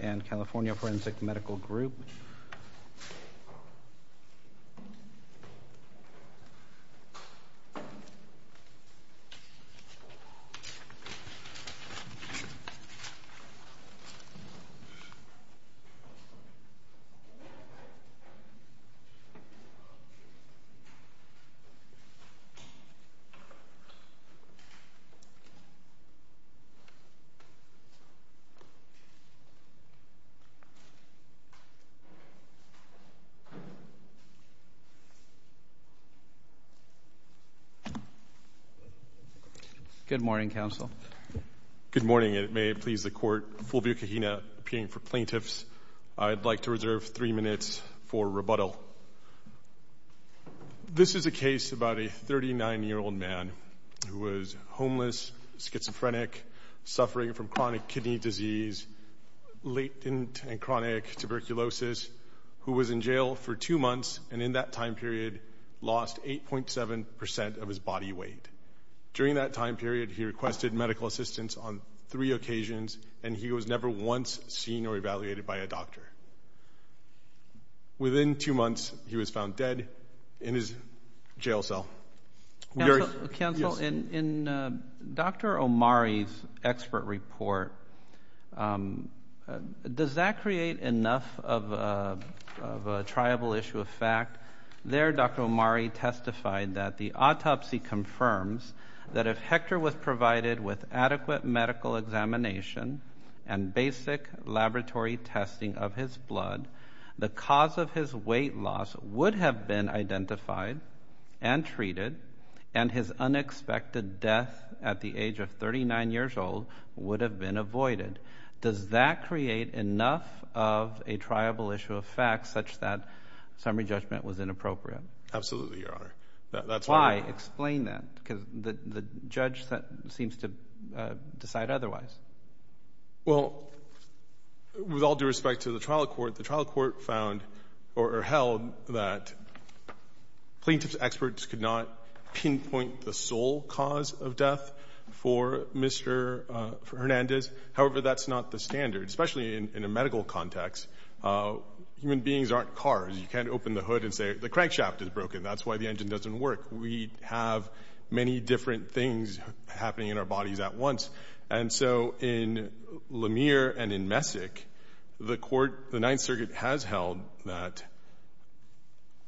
and California Forensic Medical Group. Good morning, counsel. Good morning, and may it please the court, Fulvio Cajina, appearing for plaintiffs. I'd like to reserve three minutes for rebuttal. This is a case about a 39-year-old man who was homeless, schizophrenic, suffering from chronic kidney disease, latent and chronic tuberculosis, who was in jail for two months, and in that time period lost 8.7 percent of his body weight. During that time period, he requested medical assistance on three occasions, and he was never once seen or evaluated by a doctor. Within two months, he was found dead in his jail cell. Counsel, in Dr. Omari's expert report, does that create enough of a triable issue of facts that, in fact, there Dr. Omari testified that the autopsy confirms that if Hector was provided with adequate medical examination and basic laboratory testing of his blood, the cause of his weight loss would have been identified and treated, and his unexpected death at the age of 39 years old would have been avoided? Does that create enough of a triable issue of facts such that summary judgment was inappropriate? Absolutely, Your Honor. That's why— Explain that, because the judge seems to decide otherwise. Well, with all due respect to the trial court, the trial court found or held that plaintiff's experts could not pinpoint the sole cause of death for Mr. Hernandez. However, that's not the standard, especially in a medical context. Human beings aren't cars. You can't open the hood and say, the crankshaft is broken. That's why the engine doesn't work. We have many different things happening in our bodies at once. And so in Lemire and in Messick, the Ninth Circuit has held that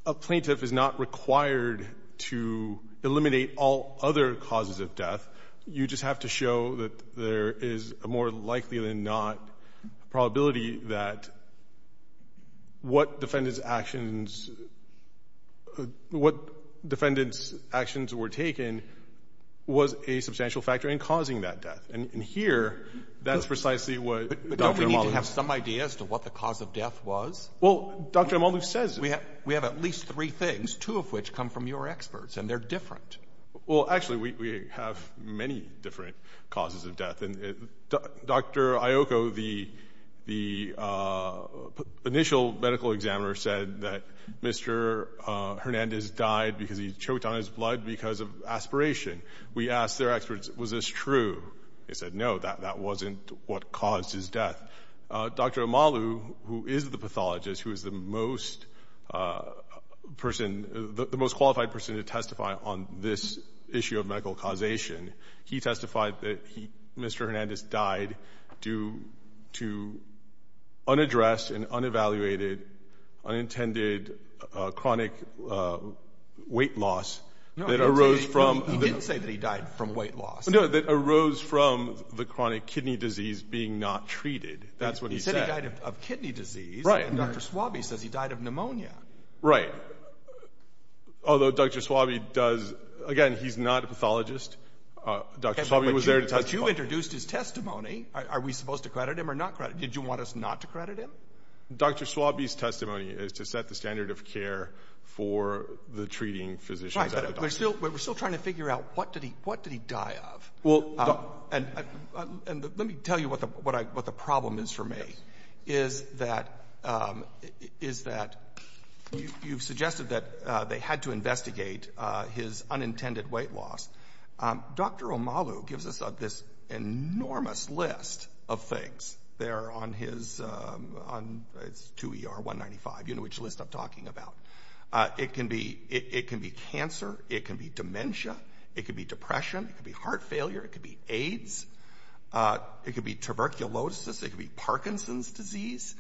a plaintiff is not required to eliminate all other causes of death. You just have to show that there is a more likely-than-not probability that what defendant's actions—what defendant's actions were taken was a substantial factor in causing that death. And here, that's precisely what Dr. Emalu— But don't we need to have some idea as to what the cause of death was? Well, Dr. Emalu says— We have at least three things, two of which come from your experts, and they're different. Well, actually, we have many different causes of death. Dr. Iocco, the initial medical examiner, said that Mr. Hernandez died because he choked on his blood because of aspiration. We asked their experts, was this true? They said, no, that wasn't what caused his death. Dr. Emalu, who is the pathologist, who is the most person—the most qualified person to testify on this issue of medical causation, he testified that Mr. Hernandez died due to unaddressed and unevaluated, unintended chronic weight loss that arose from— No, he didn't say that he died from weight loss. No, that arose from the chronic kidney disease being not treated. That's what he said. He said he died of kidney disease. Right. And Dr. Swabe says he died of pneumonia. Right. Although, Dr. Swabe does—again, he's not a pathologist. Dr. Swabe was there to testify. But you introduced his testimony. Are we supposed to credit him or not credit him? Did you want us not to credit him? Dr. Swabe's testimony is to set the standard of care for the treating physicians. Right, but we're still trying to figure out, what did he die of? Well, and let me tell you what the problem is for me, is that you've suggested that they had to investigate his unintended weight loss. Dr. Omalu gives us this enormous list of things there on his—it's 2ER195. You know which list I'm talking about. It can be cancer. It can be dementia. It could be depression. It could be heart failure. It could be AIDS. It could be tuberculosis. It could be Parkinson's disease.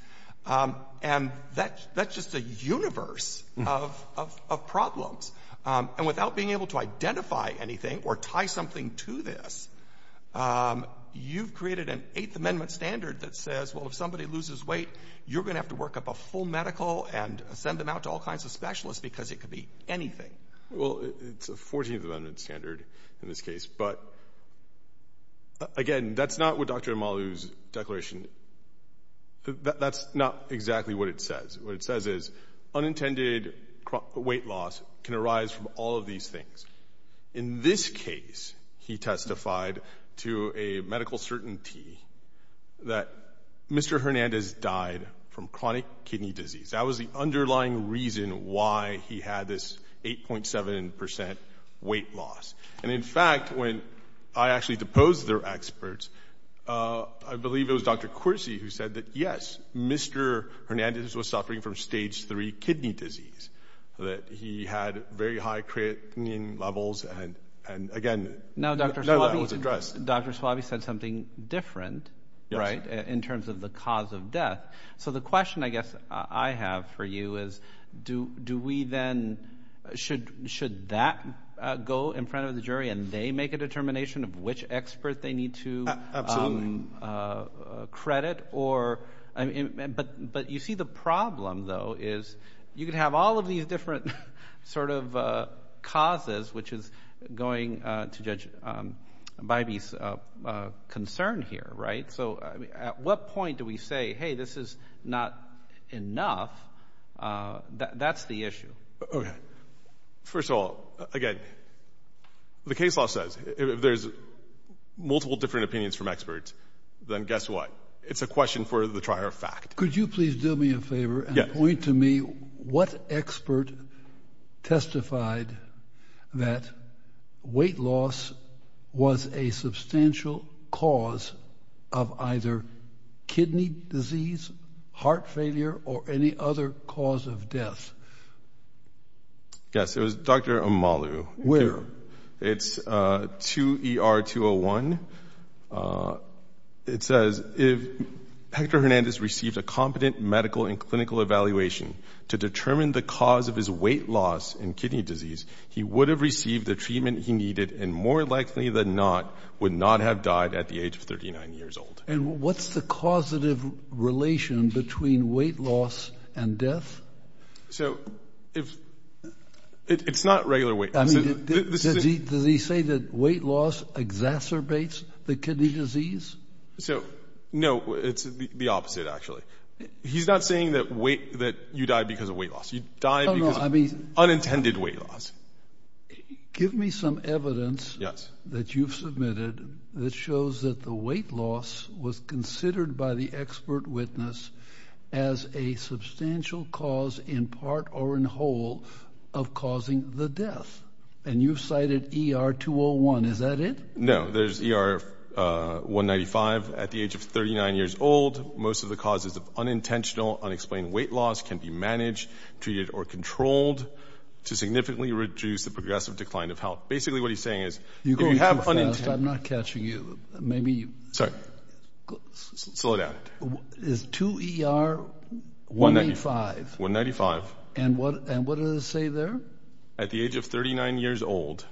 And that's just a universe of problems. And without being able to identify anything or tie something to this, you've created an Eighth Amendment standard that says, well, if somebody loses weight, you're going to have to work up a full medical and send them out to all kinds of specialists because it could be anything. Well, it's a Fourteenth Amendment standard in this case, but again, that's not what Dr. Omalu's declaration—that's not exactly what it says. What it says is, unintended weight loss can arise from all of these things. In this case, he testified to a medical certainty that Mr. Hernandez died from chronic kidney disease. That was the underlying reason why he had this 8.7 percent weight loss. And in fact, when I actually deposed their experts, I believe it was Dr. Quircy who said that, yes, Mr. Hernandez was suffering from Stage 3 kidney disease, that he had very high creatinine levels, and again— Now, Dr. Swaby said something different, right, in terms of the cause of death. So, the question, I guess, I have for you is, do we then—should that go in front of the jury and they make a determination of which expert they need to credit? But you see the problem, though, is you can have all of these different sort of causes, which is going to judge Bybee's concern here, right? So, at what point do we say, hey, this is not enough? That's the issue. Okay. First of all, again, the case law says, if there's multiple different opinions from experts, then guess what? It's a question for the trier of fact. Could you please do me a favor and point to me what expert testified that weight loss was a substantial cause of either kidney disease, heart failure, or any other cause of death? Yes, it was Dr. Amalu. Where? It's 2ER201. It says, if Hector Hernandez received a competent medical and clinical evaluation to determine the cause of his weight loss and kidney disease, he would have received the treatment he needed and, more likely than not, would not have died at the age of 39 years old. And what's the causative relation between weight loss and death? So, if—it's not regular weight loss. Does he say that weight loss exacerbates the kidney disease? So, no. It's the opposite, actually. He's not saying that you died because of weight loss. You died because of unintended weight loss. Give me some evidence that you've submitted that shows that the weight loss was considered by the expert witness as a substantial cause in part or in whole of causing the death. And you've cited 2ER201. Is that it? No. There's 2ER195. At the age of 39 years old, most of the causes of unintentional, unexplained weight loss can be managed, treated, or controlled to significantly reduce the progressive decline of health. Basically, what he's saying is— You're going too fast. I'm not catching you. Maybe you— Sorry. Slow down. Is 2ER185— And what does it say there? At the age of 39 years old,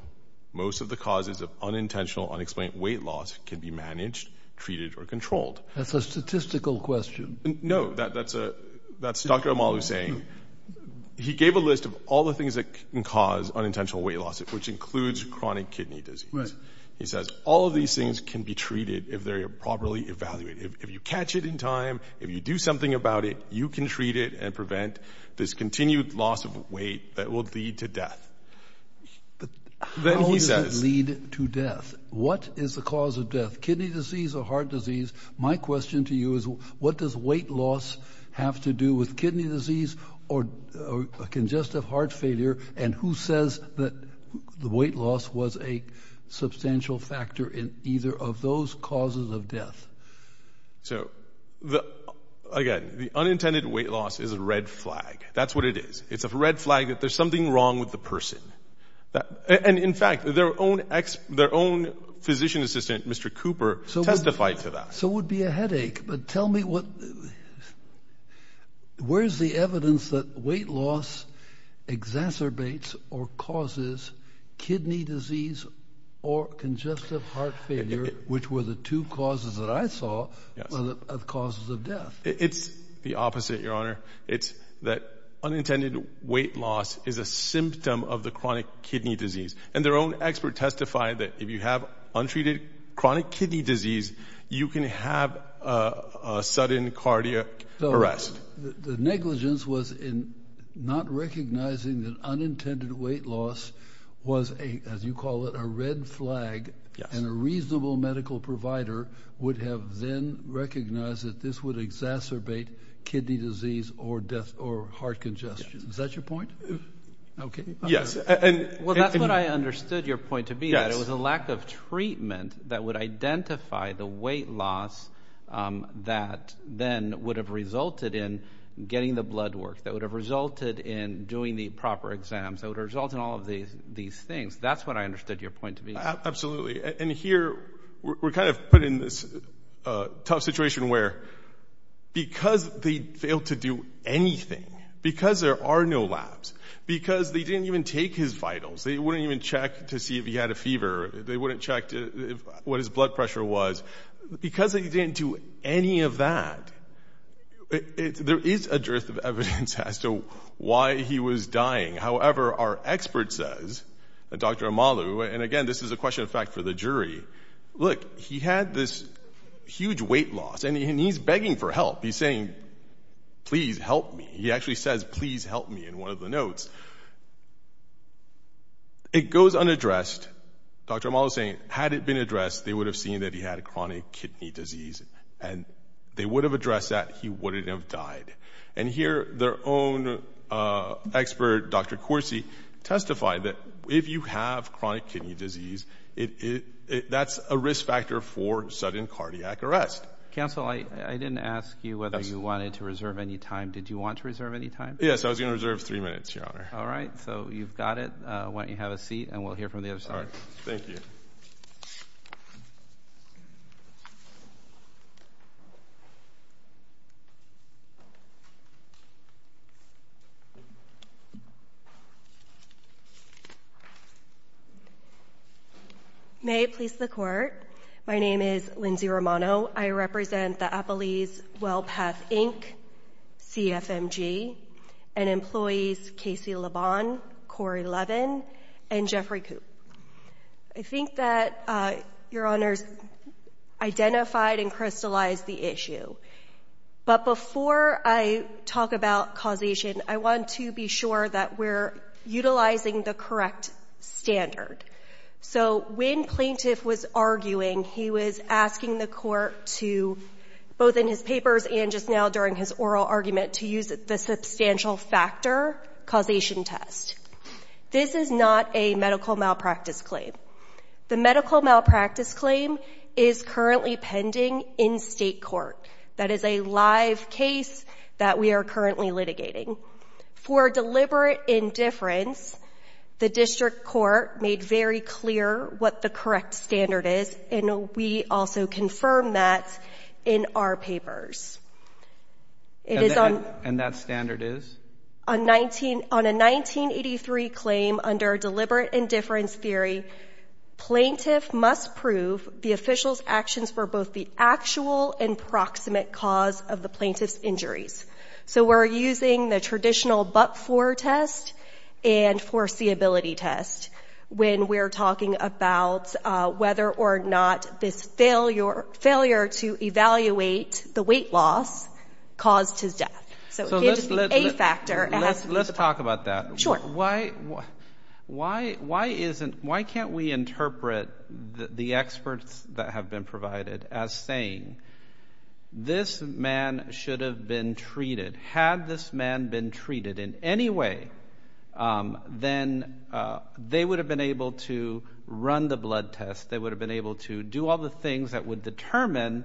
most of the causes of unintentional, unexplained weight loss can be managed, treated, or controlled. That's a statistical question. No. That's Dr. Omalu saying. He gave a list of all the things that can cause unintentional weight loss, which includes chronic kidney disease. Right. He says all of these things can be treated if they're properly evaluated. If you catch it in time, if you do something about it, you can treat it and prevent this continued loss of weight that will lead to death. Then he says— How does it lead to death? What is the cause of death, kidney disease or heart disease? My question to you is what does weight loss have to do with kidney disease or congestive heart failure? And who says that the weight loss was a substantial factor in either of those causes of death? So, again, the unintended weight loss is a red flag. That's what it is. It's a red flag that there's something wrong with the person. And, in fact, their own physician assistant, Mr. Cooper, testified to that. So it would be a headache. But tell me, where's the evidence that weight loss exacerbates or causes kidney disease or congestive heart failure, which were the two causes that I saw of causes of death? It's the opposite, Your Honor. It's that unintended weight loss is a symptom of the chronic kidney disease. And their own expert testified that if you have untreated chronic kidney disease, you can have a sudden cardiac arrest. So the negligence was in not recognizing that unintended weight loss was, as you call it, a red flag. Yes. And a reasonable medical provider would have then recognized that this would exacerbate kidney disease or heart congestion. Yes. Is that your point? Okay. Yes. Well, that's what I understood your point to be. Yes. It was a lack of treatment that would identify the weight loss that then would have resulted in getting the blood work, that would have resulted in doing the proper exams, that would have resulted in all of these things. That's what I understood your point to be. Absolutely. And here, we're kind of put in this tough situation where because they failed to do anything, because there are no labs, because they didn't even take his vitals, they wouldn't even check to see if he had a fever, they wouldn't check what his blood pressure was. Because they didn't do any of that, there is a dearth of evidence as to why he was dying. However, our expert says, Dr. Amalu, and again, this is a question of fact for the jury, look, he had this huge weight loss and he's begging for help. He's saying, please help me. He actually says, please help me in one of the notes. It goes unaddressed. Dr. Amalu is saying, had it been addressed, they would have seen that he had a chronic kidney disease and they would have addressed that, he wouldn't have died. And here, their own expert, Dr. Corsi, testified that if you have chronic kidney disease, that's a risk factor for sudden cardiac arrest. Counsel, I didn't ask you whether you wanted to reserve any time. Did you want to reserve any time? Yes, I was going to reserve three minutes, Your Honor. All right. So you've got it. Why don't you have a seat and we'll hear from the other side. Thank you. May it please the Court. My name is Lindsay Romano. I represent the Appalese Wellpath, Inc., CFMG, and employees Casey Labon, Corey Levin, and Jeffrey Koop. I think that Your Honors identified and crystallized the issue. But before I talk about causation, I want to be sure that we're utilizing the correct standard. So when plaintiff was arguing, he was asking the court to, both in his papers and just now during his oral argument, to use the substantial factor causation test. This is not a medical malpractice claim. The medical malpractice claim is currently pending in state court. That is a live case that we are currently litigating. For deliberate indifference, the district court made very clear what the correct standard is, and we also confirm that in our papers. And that standard is? On a 1983 claim under deliberate indifference theory, plaintiff must prove the official's actions were both the actual and proximate cause of the plaintiff's injuries. So we're using the traditional but-for test and foreseeability test when we're talking about whether or not this failure to evaluate the weight loss caused his death. So it can't just be a factor. Let's talk about that. Sure. Why can't we interpret the experts that have been provided as saying this man should have been treated? Had this man been treated in any way, then they would have been able to run the blood test, they would have been able to do all the things that would determine,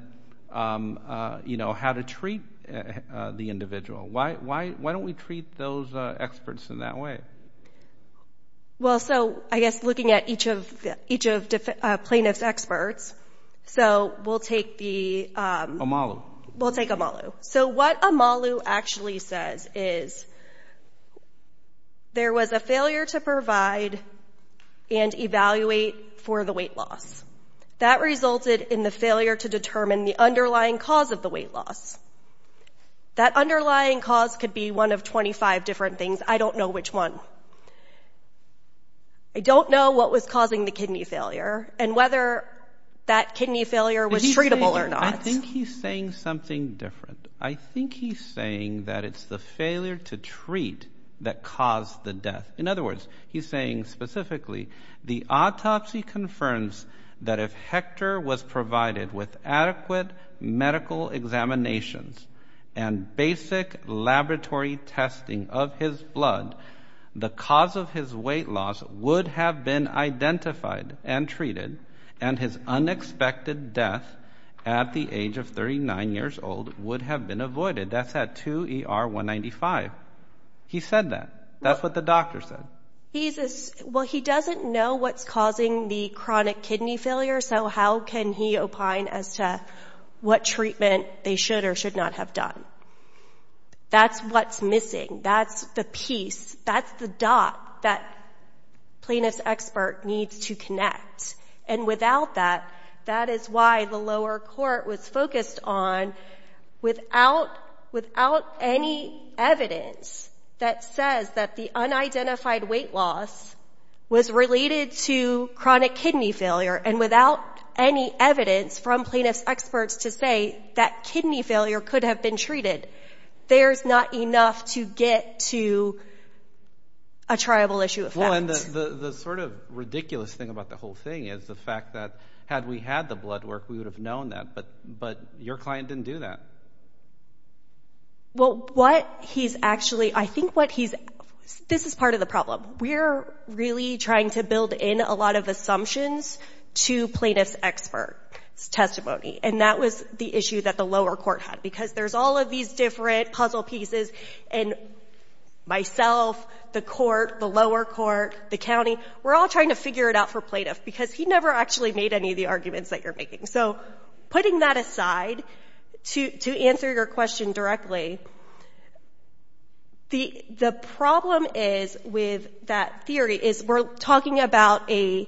you know, how to treat the individual. Why don't we treat those experts in that way? Well, so I guess looking at each of plaintiff's experts, so we'll take the... We'll take Amalu. So what Amalu actually says is there was a failure to provide and evaluate for the weight loss. That resulted in the failure to determine the underlying cause of the weight loss. That underlying cause could be one of 25 different things. I don't know which one. I don't know what was causing the kidney failure and whether that kidney failure was treatable or not. I think he's saying something different. I think he's saying that it's the failure to treat that caused the death. In other words, he's saying specifically the autopsy confirms that if Hector was provided with adequate medical examinations and basic laboratory testing of his blood, the cause of his weight loss would have been identified and treated and his unexpected death at the age of 39 years old would have been avoided. That's at 2 ER 195. He said that. That's what the doctor said. He's... Well, he doesn't know what's causing the chronic kidney failure, so how can he opine as to what treatment they should or should not have done? That's what's missing. That's the piece. That's the dot that plaintiff's expert needs to connect. And without that, that is why the lower court was focused on without any evidence that says that the unidentified weight loss was related to chronic kidney failure and without any evidence from plaintiff's experts to say that kidney failure could have been treated, there's not enough to get to a triable issue of fact. Well, and the sort of ridiculous thing about the whole thing is the fact that had we had the blood work, we would have known that, but your client didn't do that. Well, what he's actually... I think what he's... This is part of the problem. We're really trying to build in a lot of assumptions to plaintiff's expert's testimony, and that was the issue that the lower court had, because there's all of these different puzzle pieces, and myself, the court, the lower court, the county, we're all trying to figure it out for plaintiff, because he never actually made any of the arguments that you're making. So putting that aside, to answer your question directly, the problem is with that theory is we're talking about an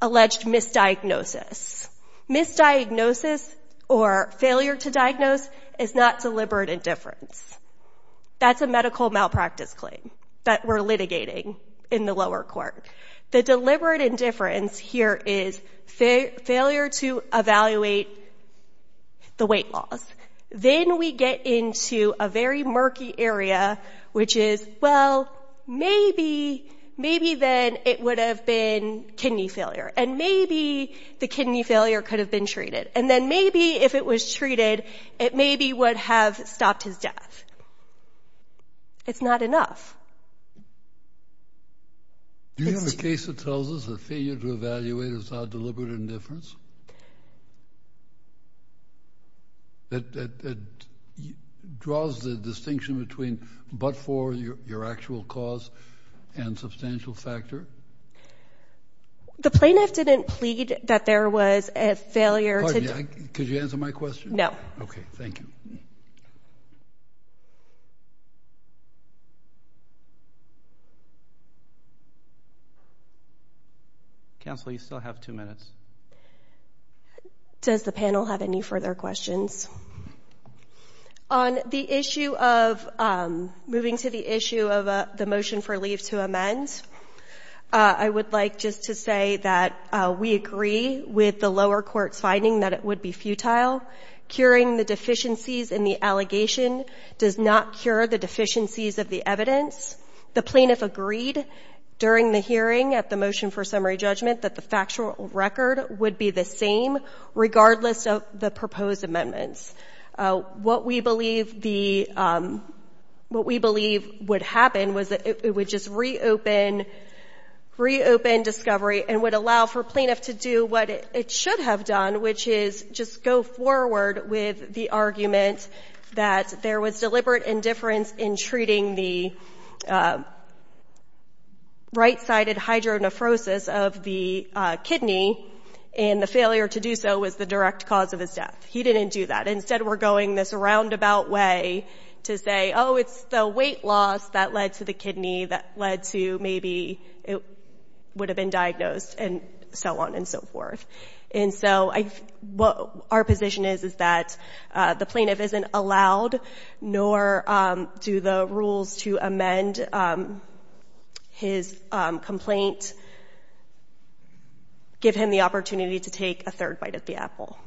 alleged misdiagnosis. Misdiagnosis, or failure to diagnose, is not deliberate indifference. That's a medical malpractice claim that we're litigating in the lower court. The deliberate indifference here is failure to evaluate the weight loss. Then we get into a very murky area, which is, well, maybe, maybe then it would have been kidney failure, and maybe the kidney failure could have been treated, and then maybe if it was treated, it maybe would have stopped his death. It's not enough. Do you have a case that tells us that failure to evaluate is not deliberate indifference? That draws the distinction between but-for, your actual cause, and substantial factor? The plaintiff didn't plead that there was a failure to... Pardon me, could you answer my question? No. Okay, thank you. Counsel, you still have two minutes. Does the panel have any further questions? On the issue of moving to the issue of the motion for leave to amend, I would like just to say that we agree with the lower court's finding that it would be futile. Curing the deficiencies in the allegation does not cure the deficiencies of the evidence. The plaintiff agreed during the hearing at the motion for summary judgment that the factual record would be the same, regardless of the proposed amendments. What we believe the... What we believe would happen was that it would just reopen discovery and would allow for plaintiff to do what it should have done, which is just go forward with the argument that there was deliberate indifference in treating the right-sided hydronephrosis of the kidney, and the failure to do so was the direct cause of his death. He didn't do that. Instead, we're going this roundabout way to say, oh, it's the weight loss that led to the kidney that led to maybe it would have been diagnosed and so on and so forth. And so what our position is is that the plaintiff isn't allowed, nor do the rules to amend his complaint give him the opportunity to take a third bite at the apple.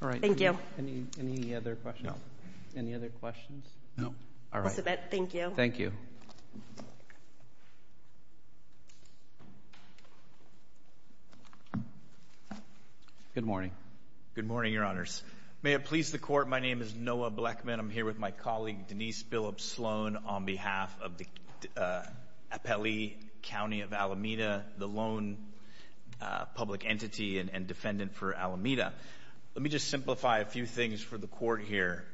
All right. Thank you. Any other questions? Any other questions? No. All right. Thank you. Thank you. Good morning. Good morning, Your Honors. May it please the Court, my name is Noah Blechman. I'm here with my colleague, Denise Billups Sloan, on behalf of the Appellee County of Alameda, the lone public entity and defendant for Alameda. Let me just simplify a few things for the Court here.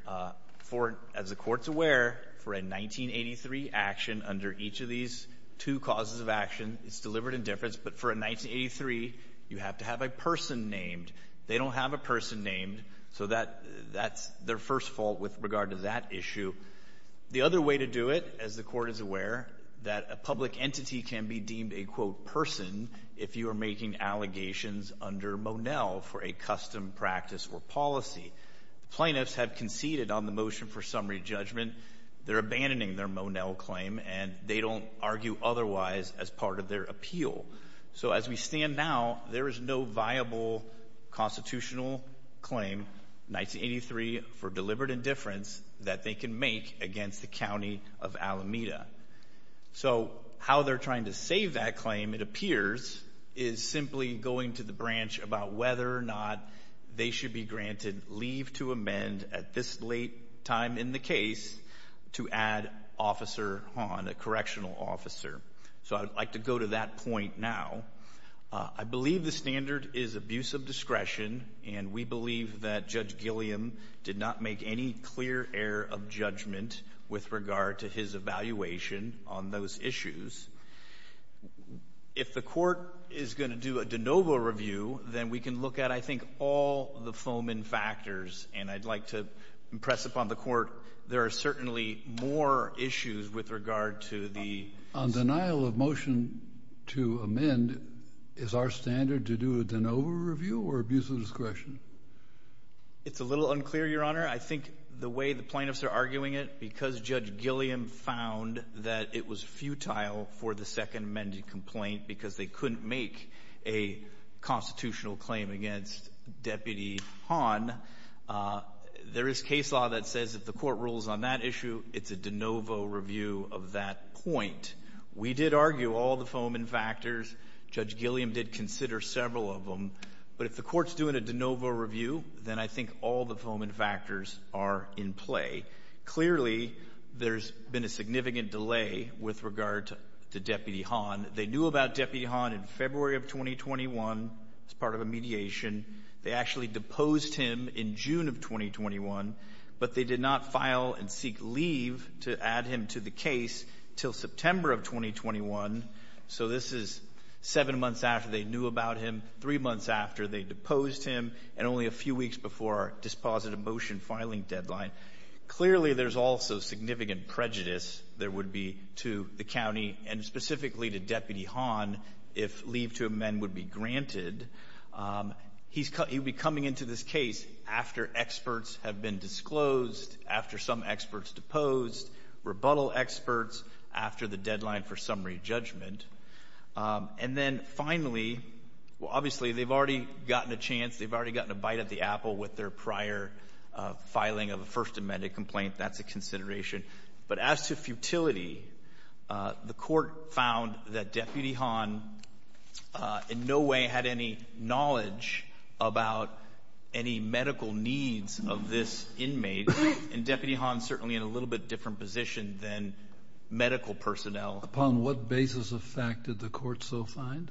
As the Court's aware, for a 1983 action under each of these two causes of action, it's delivered in difference, but for a 1983, you have to have a person named. They don't have a person named, so that's their first fault with regard to that issue. The other way to do it, as the Court is aware, that a public entity can be deemed a, quote, person if you are making allegations under Monell for a custom practice or policy. Plaintiffs have conceded on the motion for summary judgment. They're abandoning their Monell claim and they don't argue otherwise as part of their appeal. So as we stand now, there is no viable constitutional claim, 1983 for delivered in difference, that they can make against the County of Alameda. So how they're trying to save that claim, it appears, is simply going to the branch about whether or not they should be granted leave to amend at this late time in the case to add Officer Hahn, a correctional officer. So I'd like to go to that point now. I believe the standard is abuse of discretion, and we believe that Judge Gilliam did not make any clear error of judgment with regard to his evaluation on those issues. If the court is going to do a de novo review, then we can look at, I think, all the Foeman factors, and I'd like to impress upon the court there are certainly more issues with regard to the... On denial of motion to amend, is our standard to do a de novo review or abuse of discretion? It's a little unclear, Your Honor. I think the way the plaintiffs are arguing it, because Judge Gilliam found that it was futile for the second amended complaint because they couldn't make a constitutional claim against Deputy Hahn, there is case law that says if the court rules on that issue, it's a de novo review of that point. We did argue all the Foeman factors. Judge Gilliam did consider several of them. But if the court's doing a de novo review, then I think all the Foeman factors are in play. Clearly, there's been a significant delay with regard to Deputy Hahn. They knew about Deputy Hahn in February of 2021 as part of a mediation. They actually deposed him in June of 2021, but they did not file and seek leave to add him to the case till September of 2021. So this is seven months after they knew about him, three months after they deposed him, and only a few weeks before our dispositive motion filing deadline. Clearly, there's also significant prejudice there would be to the county and specifically to Deputy Hahn if leave to amend would be granted. He'd be coming into this case after experts have been disclosed, after some experts deposed, rebuttal experts, after the deadline for summary judgment. And then finally, obviously, they've already gotten a chance, they've already gotten a bite of the apple with their prior filing of a First Amendment complaint. That's a consideration. But as to futility, the court found that Deputy Hahn in no way had any knowledge about any medical needs of this inmate, and Deputy Hahn's certainly in a little bit different position than medical personnel. Upon what basis of fact did the court so find?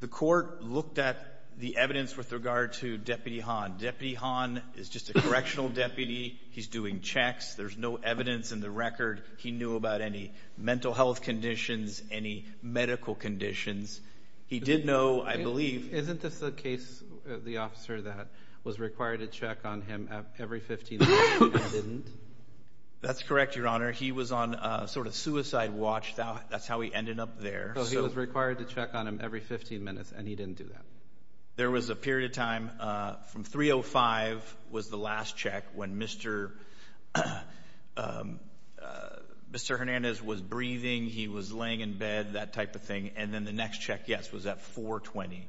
The court looked at the evidence with regard to Deputy Hahn. Deputy Hahn is just a correctional deputy. He's doing checks. There's no evidence in the record he knew about any mental health conditions, any medical conditions. He did know, I believe... Isn't this the case, the officer that was required to check on him every 15 minutes, and he didn't? That's correct, Your Honor. He was on a sort of suicide watch. That's how he ended up there. So he was required to check on him every 15 minutes, and he didn't do that? There was a period of time from 3.05 was the last check when Mr. Hernandez was breathing, he was laying in bed, that type of thing, and then the next check, yes, was at 4.20.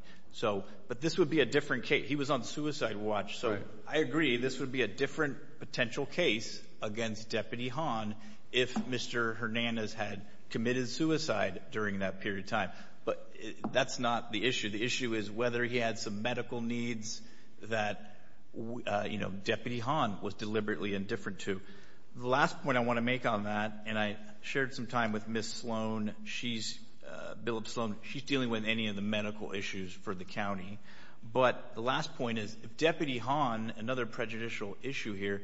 But this would be a different case. He was on suicide watch. So I agree, this would be a different potential case against Deputy Hahn if Mr. Hernandez had committed suicide during that period of time. But that's not the issue. The issue is whether he had some medical needs that Deputy Hahn was deliberately indifferent to. The last point I want to make on that, and I shared some time with Ms. Sloan, Bill Sloan, she's dealing with any of the medical issues for the county. But the last point is, if Deputy Hahn, another prejudicial issue here,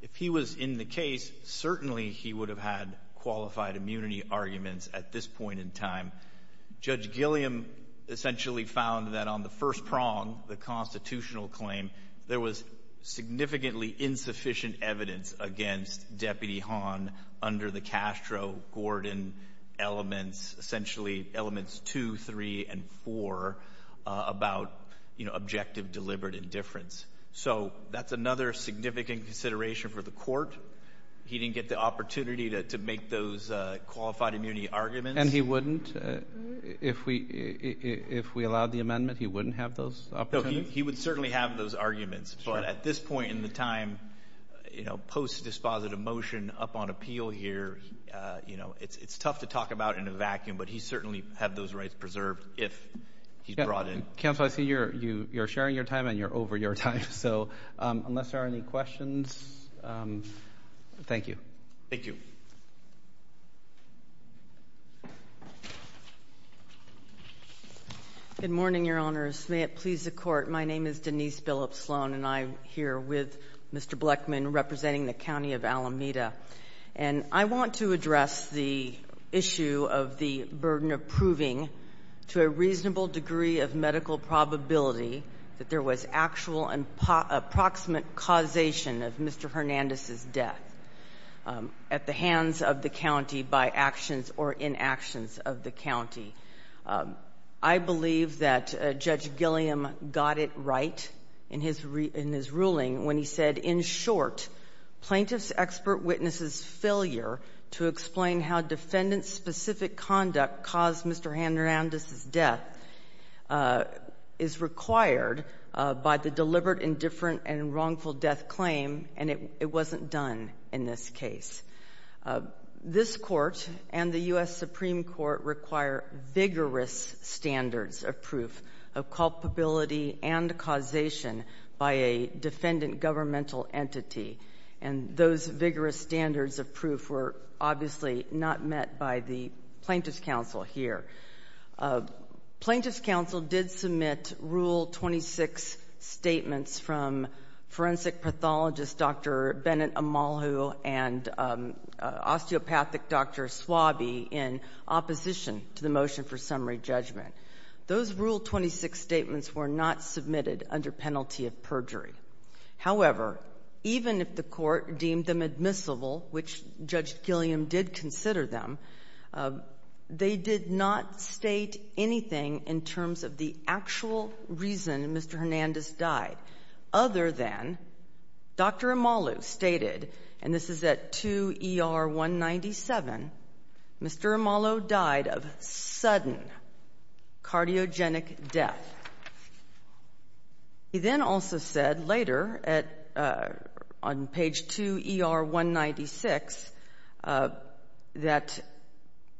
if he was in the case, certainly he would have had qualified immunity arguments at this point in time. Judge Gilliam essentially found that on the first prong, the constitutional claim, there was significantly insufficient evidence against Deputy Hahn under the Castro-Gordon elements, essentially elements two, three, and four, about, you know, objective deliberate indifference. So that's another significant consideration for the court. He didn't get the opportunity to make those qualified immunity arguments. And he wouldn't? If we allowed the amendment, he wouldn't have those opportunities? No, he would certainly have those arguments. But at this point in the time, you know, post-dispositive motion up on appeal here, you know, it's tough to talk about in a vacuum, but he'd certainly have those rights preserved if he's brought in. Counsel, I see you're sharing your time and you're over your time. So unless there are any questions, thank you. Thank you. Good morning, Your Honors. May it please the Court. My name is Denise Billups Sloan and I'm here with Mr. Bleckman representing the County of Alameda. And I want to address the issue of the burden of proving to a reasonable degree of medical probability that there was actual and approximate causation of Mr. Hernandez's death at the hands of the County by actions or inaction of the County. I believe that Judge Gilliam got it right in his ruling when he said in short plaintiff's expert witness's failure to explain how defendant specific conduct caused Mr. Hernandez's death is required by the deliberate indifferent and wrongful death claim and it wasn't done in this case. This Court and the U.S. Supreme Court require vigorous standards of proof of culpability and causation by a defendant governmental entity and those vigorous standards of proof were obviously not met by the Plaintiff's Council here. Plaintiff's did submit Rule 26 statements from forensic pathologist Dr. Bennett Amalu and osteopathic Dr. Swaby in opposition to the motion for summary judgment. Those Rule 26 statements were not submitted under penalty of perjury. However, even if the deemed them admissible which Judge Gilliam did consider them, they did not state anything in terms of the cause of death they did not And this is at 2 ER 197 Mr. Amalu died of sudden cardiogenic death. He then also said later on page 2 ER 196 that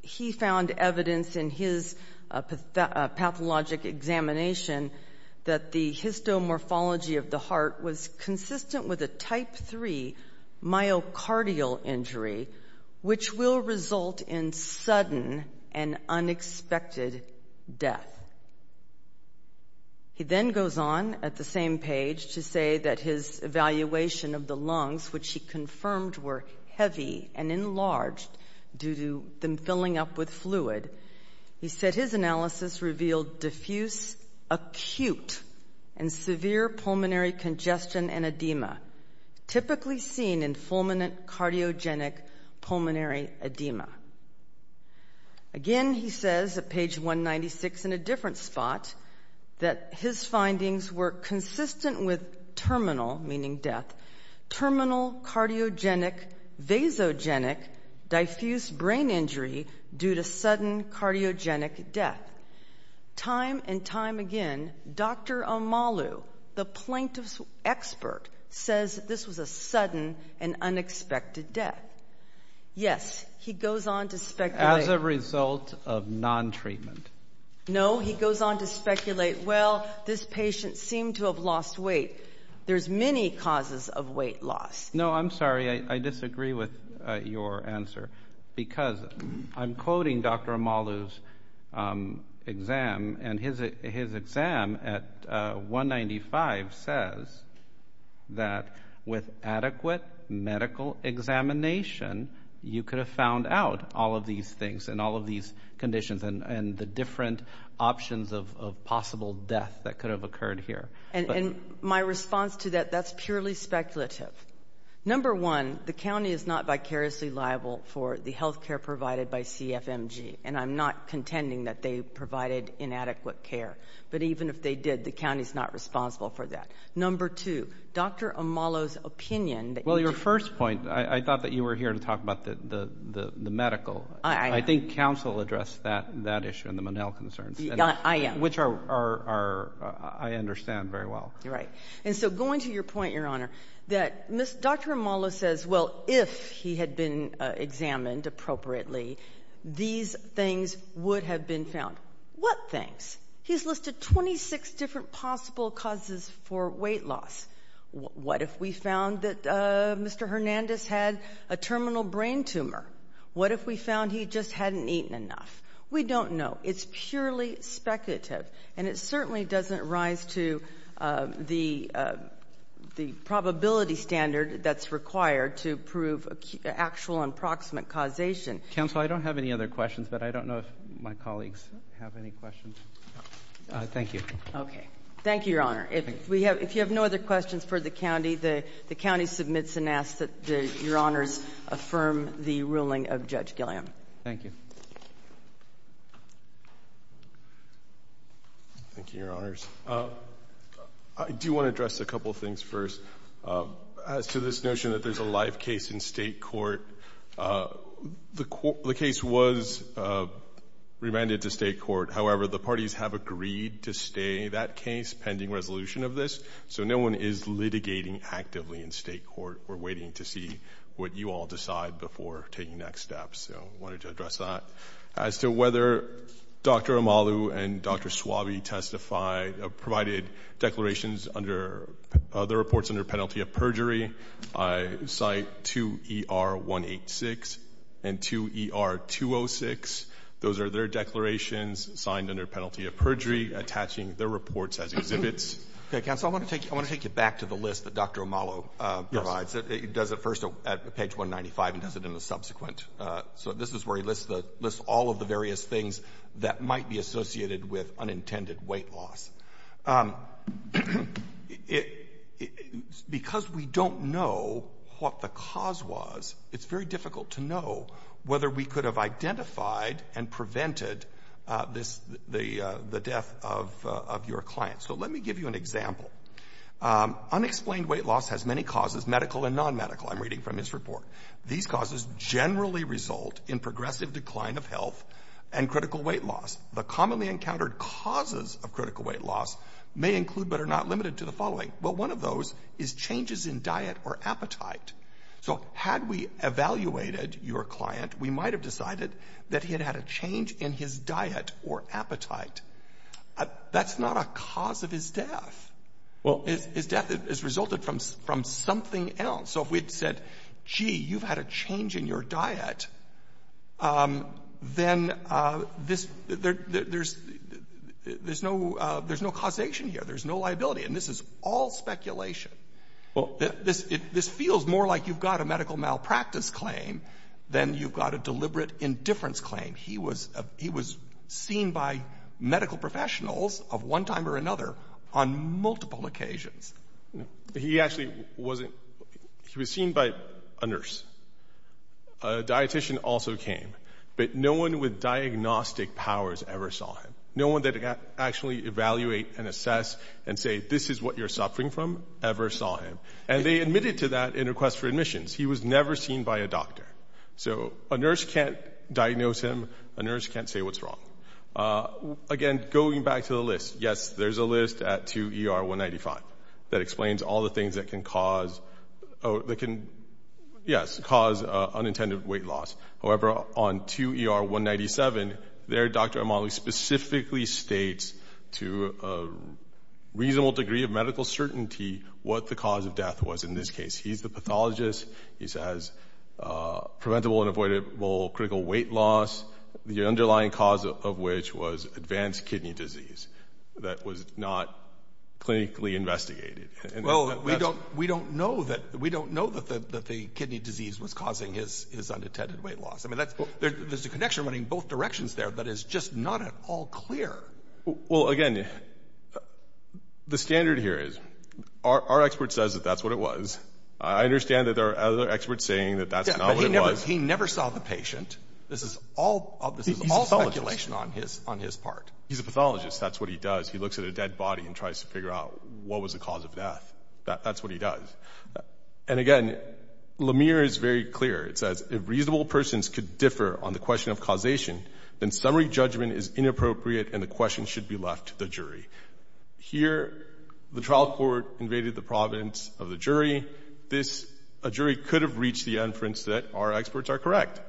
he found evidence in his pathologic examination that the histomorphology of the heart was consistent with a type 3 myocardial injury which will result in sudden and death. He then goes on at the same page to say that his evaluation of the lungs which he were heavy and enlarged due to them filling up with He said his analysis revealed diffuse acute and severe pulmonary congestion and edema typically seen in fulminant cardiogenic pulmonary edema. Again he says at page 196 in a different spot that his findings were consistent with terminal meaning death terminal cardiogenic vasogenic diffuse brain injury due to cardiogenic death. Time and time again Dr. the plaintiff's expert says this was a and unexpected death. Yes he goes on to speculate. As a result of non-treatment. No he goes on to speculate well this patient seemed to have lost weight. There's many causes of weight loss. No I'm sorry I disagree with your answer. Because I'm quoting Dr. Amalu's exam and his exam at 195 says that with adequate medical examination you could have found out all of these things and all of these conditions and the different options of possible death that could have occurred here. And my response to that is that's purely speculative. Number one the county is not vicariously liable for the health care provided by CFMG and I'm not contending that they provided inadequate care. But even if they did the county is not responsible for that. Number two Dr. Amalu's opinion Well your first point I thought that you were here to talk about the medical. I think council addressed that issue and the Monell concerns. I understand very well. Right. And so going to your point your honor that Dr. Amalu says well if he had been examined appropriately these things would have been found. What things? He's listed 26 different possible causes for weight loss. What if we found that Mr. Hernandez had a terminal brain tumor? What if we found he just hadn't eaten enough? We don't know. It's purely speculative and it certainly doesn't rise to the probability standard that's required to prove actual and proximate causation. Counsel, I don't have any other questions but I don't know if my colleagues have any questions. Thank you. Okay. Thank you your honor. If you have no other questions for the As to this notion that there's a life case in state court, the case was remanded to state court. However, the parties have agreed to stay that case pending resolution of this so no one is litigating actively in state court. We're going to The report is under penalty of perjury. cite two ER 186 and two ER 206. Those are their declarations signed under penalty of attaching their reports as exhibits. I want to take a moment say because we don't know what the cause was, it's difficult to know whether we could have identified and prevented the death of your client. Unexplained weight loss has many causes medical and nonmedical. These generally result in progressive decline of health and critical weight loss. One of those is changes in diet or Had we evaluated your client we might have decided he had a change in diet or appetite. That's not a cause of his His death resulted from something else. If we said you had a change in your diet, then there's no causation here. There's no liability. This is all speculation. This feels more like a medical malpractice claim than a deliberate indifference claim. He was seen by medical professionals on multiple occasions. He was seen by a nurse. A dietitian also came. But no one with diagnostic powers ever saw him. No one that could evaluate and say this is what you're eating. He was never seen by a doctor. A nurse can't diagnose him. A nurse can't say what's wrong. Going back to the list, yes, there's a list at 2ER 195 that explains all the things that can cause unintended weight loss. However, on 2ER 197, their doctor specifically states to a reasonable degree of medical certainty what the cause of death was. He's the pathologist. He says preventable and avoidable critical weight loss, the underlying cause of which was advanced kidney disease that was not clinically investigated. We don't know that the kidney disease was causing his unintended weight loss. There's a connection running both directions there, but it's just not at all clear. Well, again, the standard here is our expert says that's what it was. I understand that there are other experts saying that's not what it He never saw the cause of That's what he does. And again, Lemire is very clear. It says if reasonable persons could differ on the question of causation, then summary judgment is inappropriate and the question should be left to the Here, the trial court invaded the province of the jury. A jury could have reached the inference that our experts are correct.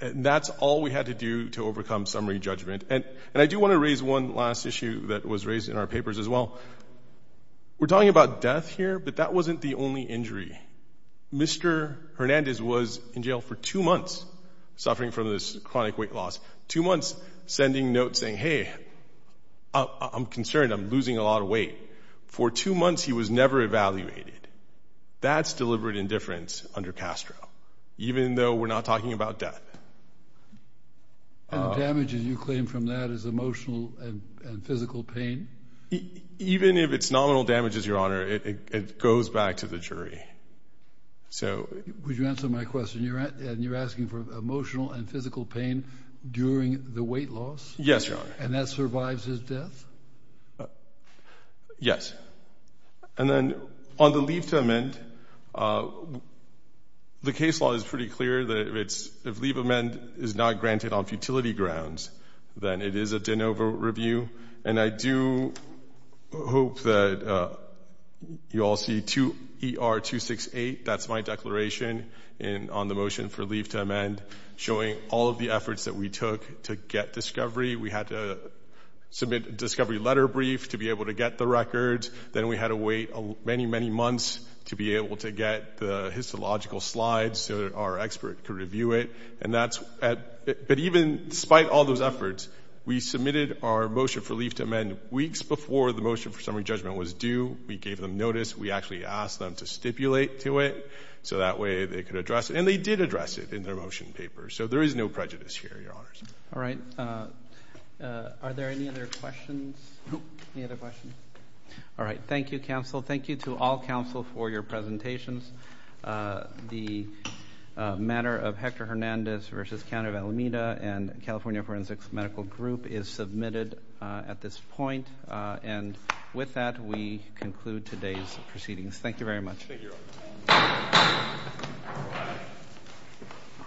And that's all we had to do to overcome summary judgment. And I do want to raise one last issue that was raised in our papers as well. We're talking about death here, but that wasn't the only injury. Mr. Hernandez was in jail for two months suffering from this chronic weight loss. Two months sending notes saying, hey, I'm concerned. I'm losing a lot of weight. For two months he was never evaluated. That's deliberate indifference under Castro, even though we're not talking about death. And the damages you claim from that is emotional and physical pain? Even if it's nominal damages, Your Honor, it goes back to the Would you answer my question? You're asking for emotional and physical pain during the weight loss? Yes, Your And that survives his Yes. And then on the leave to the case law is pretty clear that if leave amend is not granted on futility grounds, then it is a significant not submit discovery letter brief to be able to get the records, then we had to wait many months to get the slides so our expert could review it. But even despite all those efforts, we submitted our motion for leave to amend weeks before the motion for summary judgment was due. We gave them notice. We actually asked them to stipulate to it so that way they could address it. And they did address it in their motion papers. So there is no prejudice here, Your Honor. All right. Are there any other questions? Any other questions? All right. Thank you, counsel. Thank you to all counsel for your presentations. The matter of Hector Hernandez versus County of Alameda and California Forensics Medical Group is submitted at this point. And with that, we conclude today's proceedings. Thank you very much. Thank you, Your Honor. Thank you,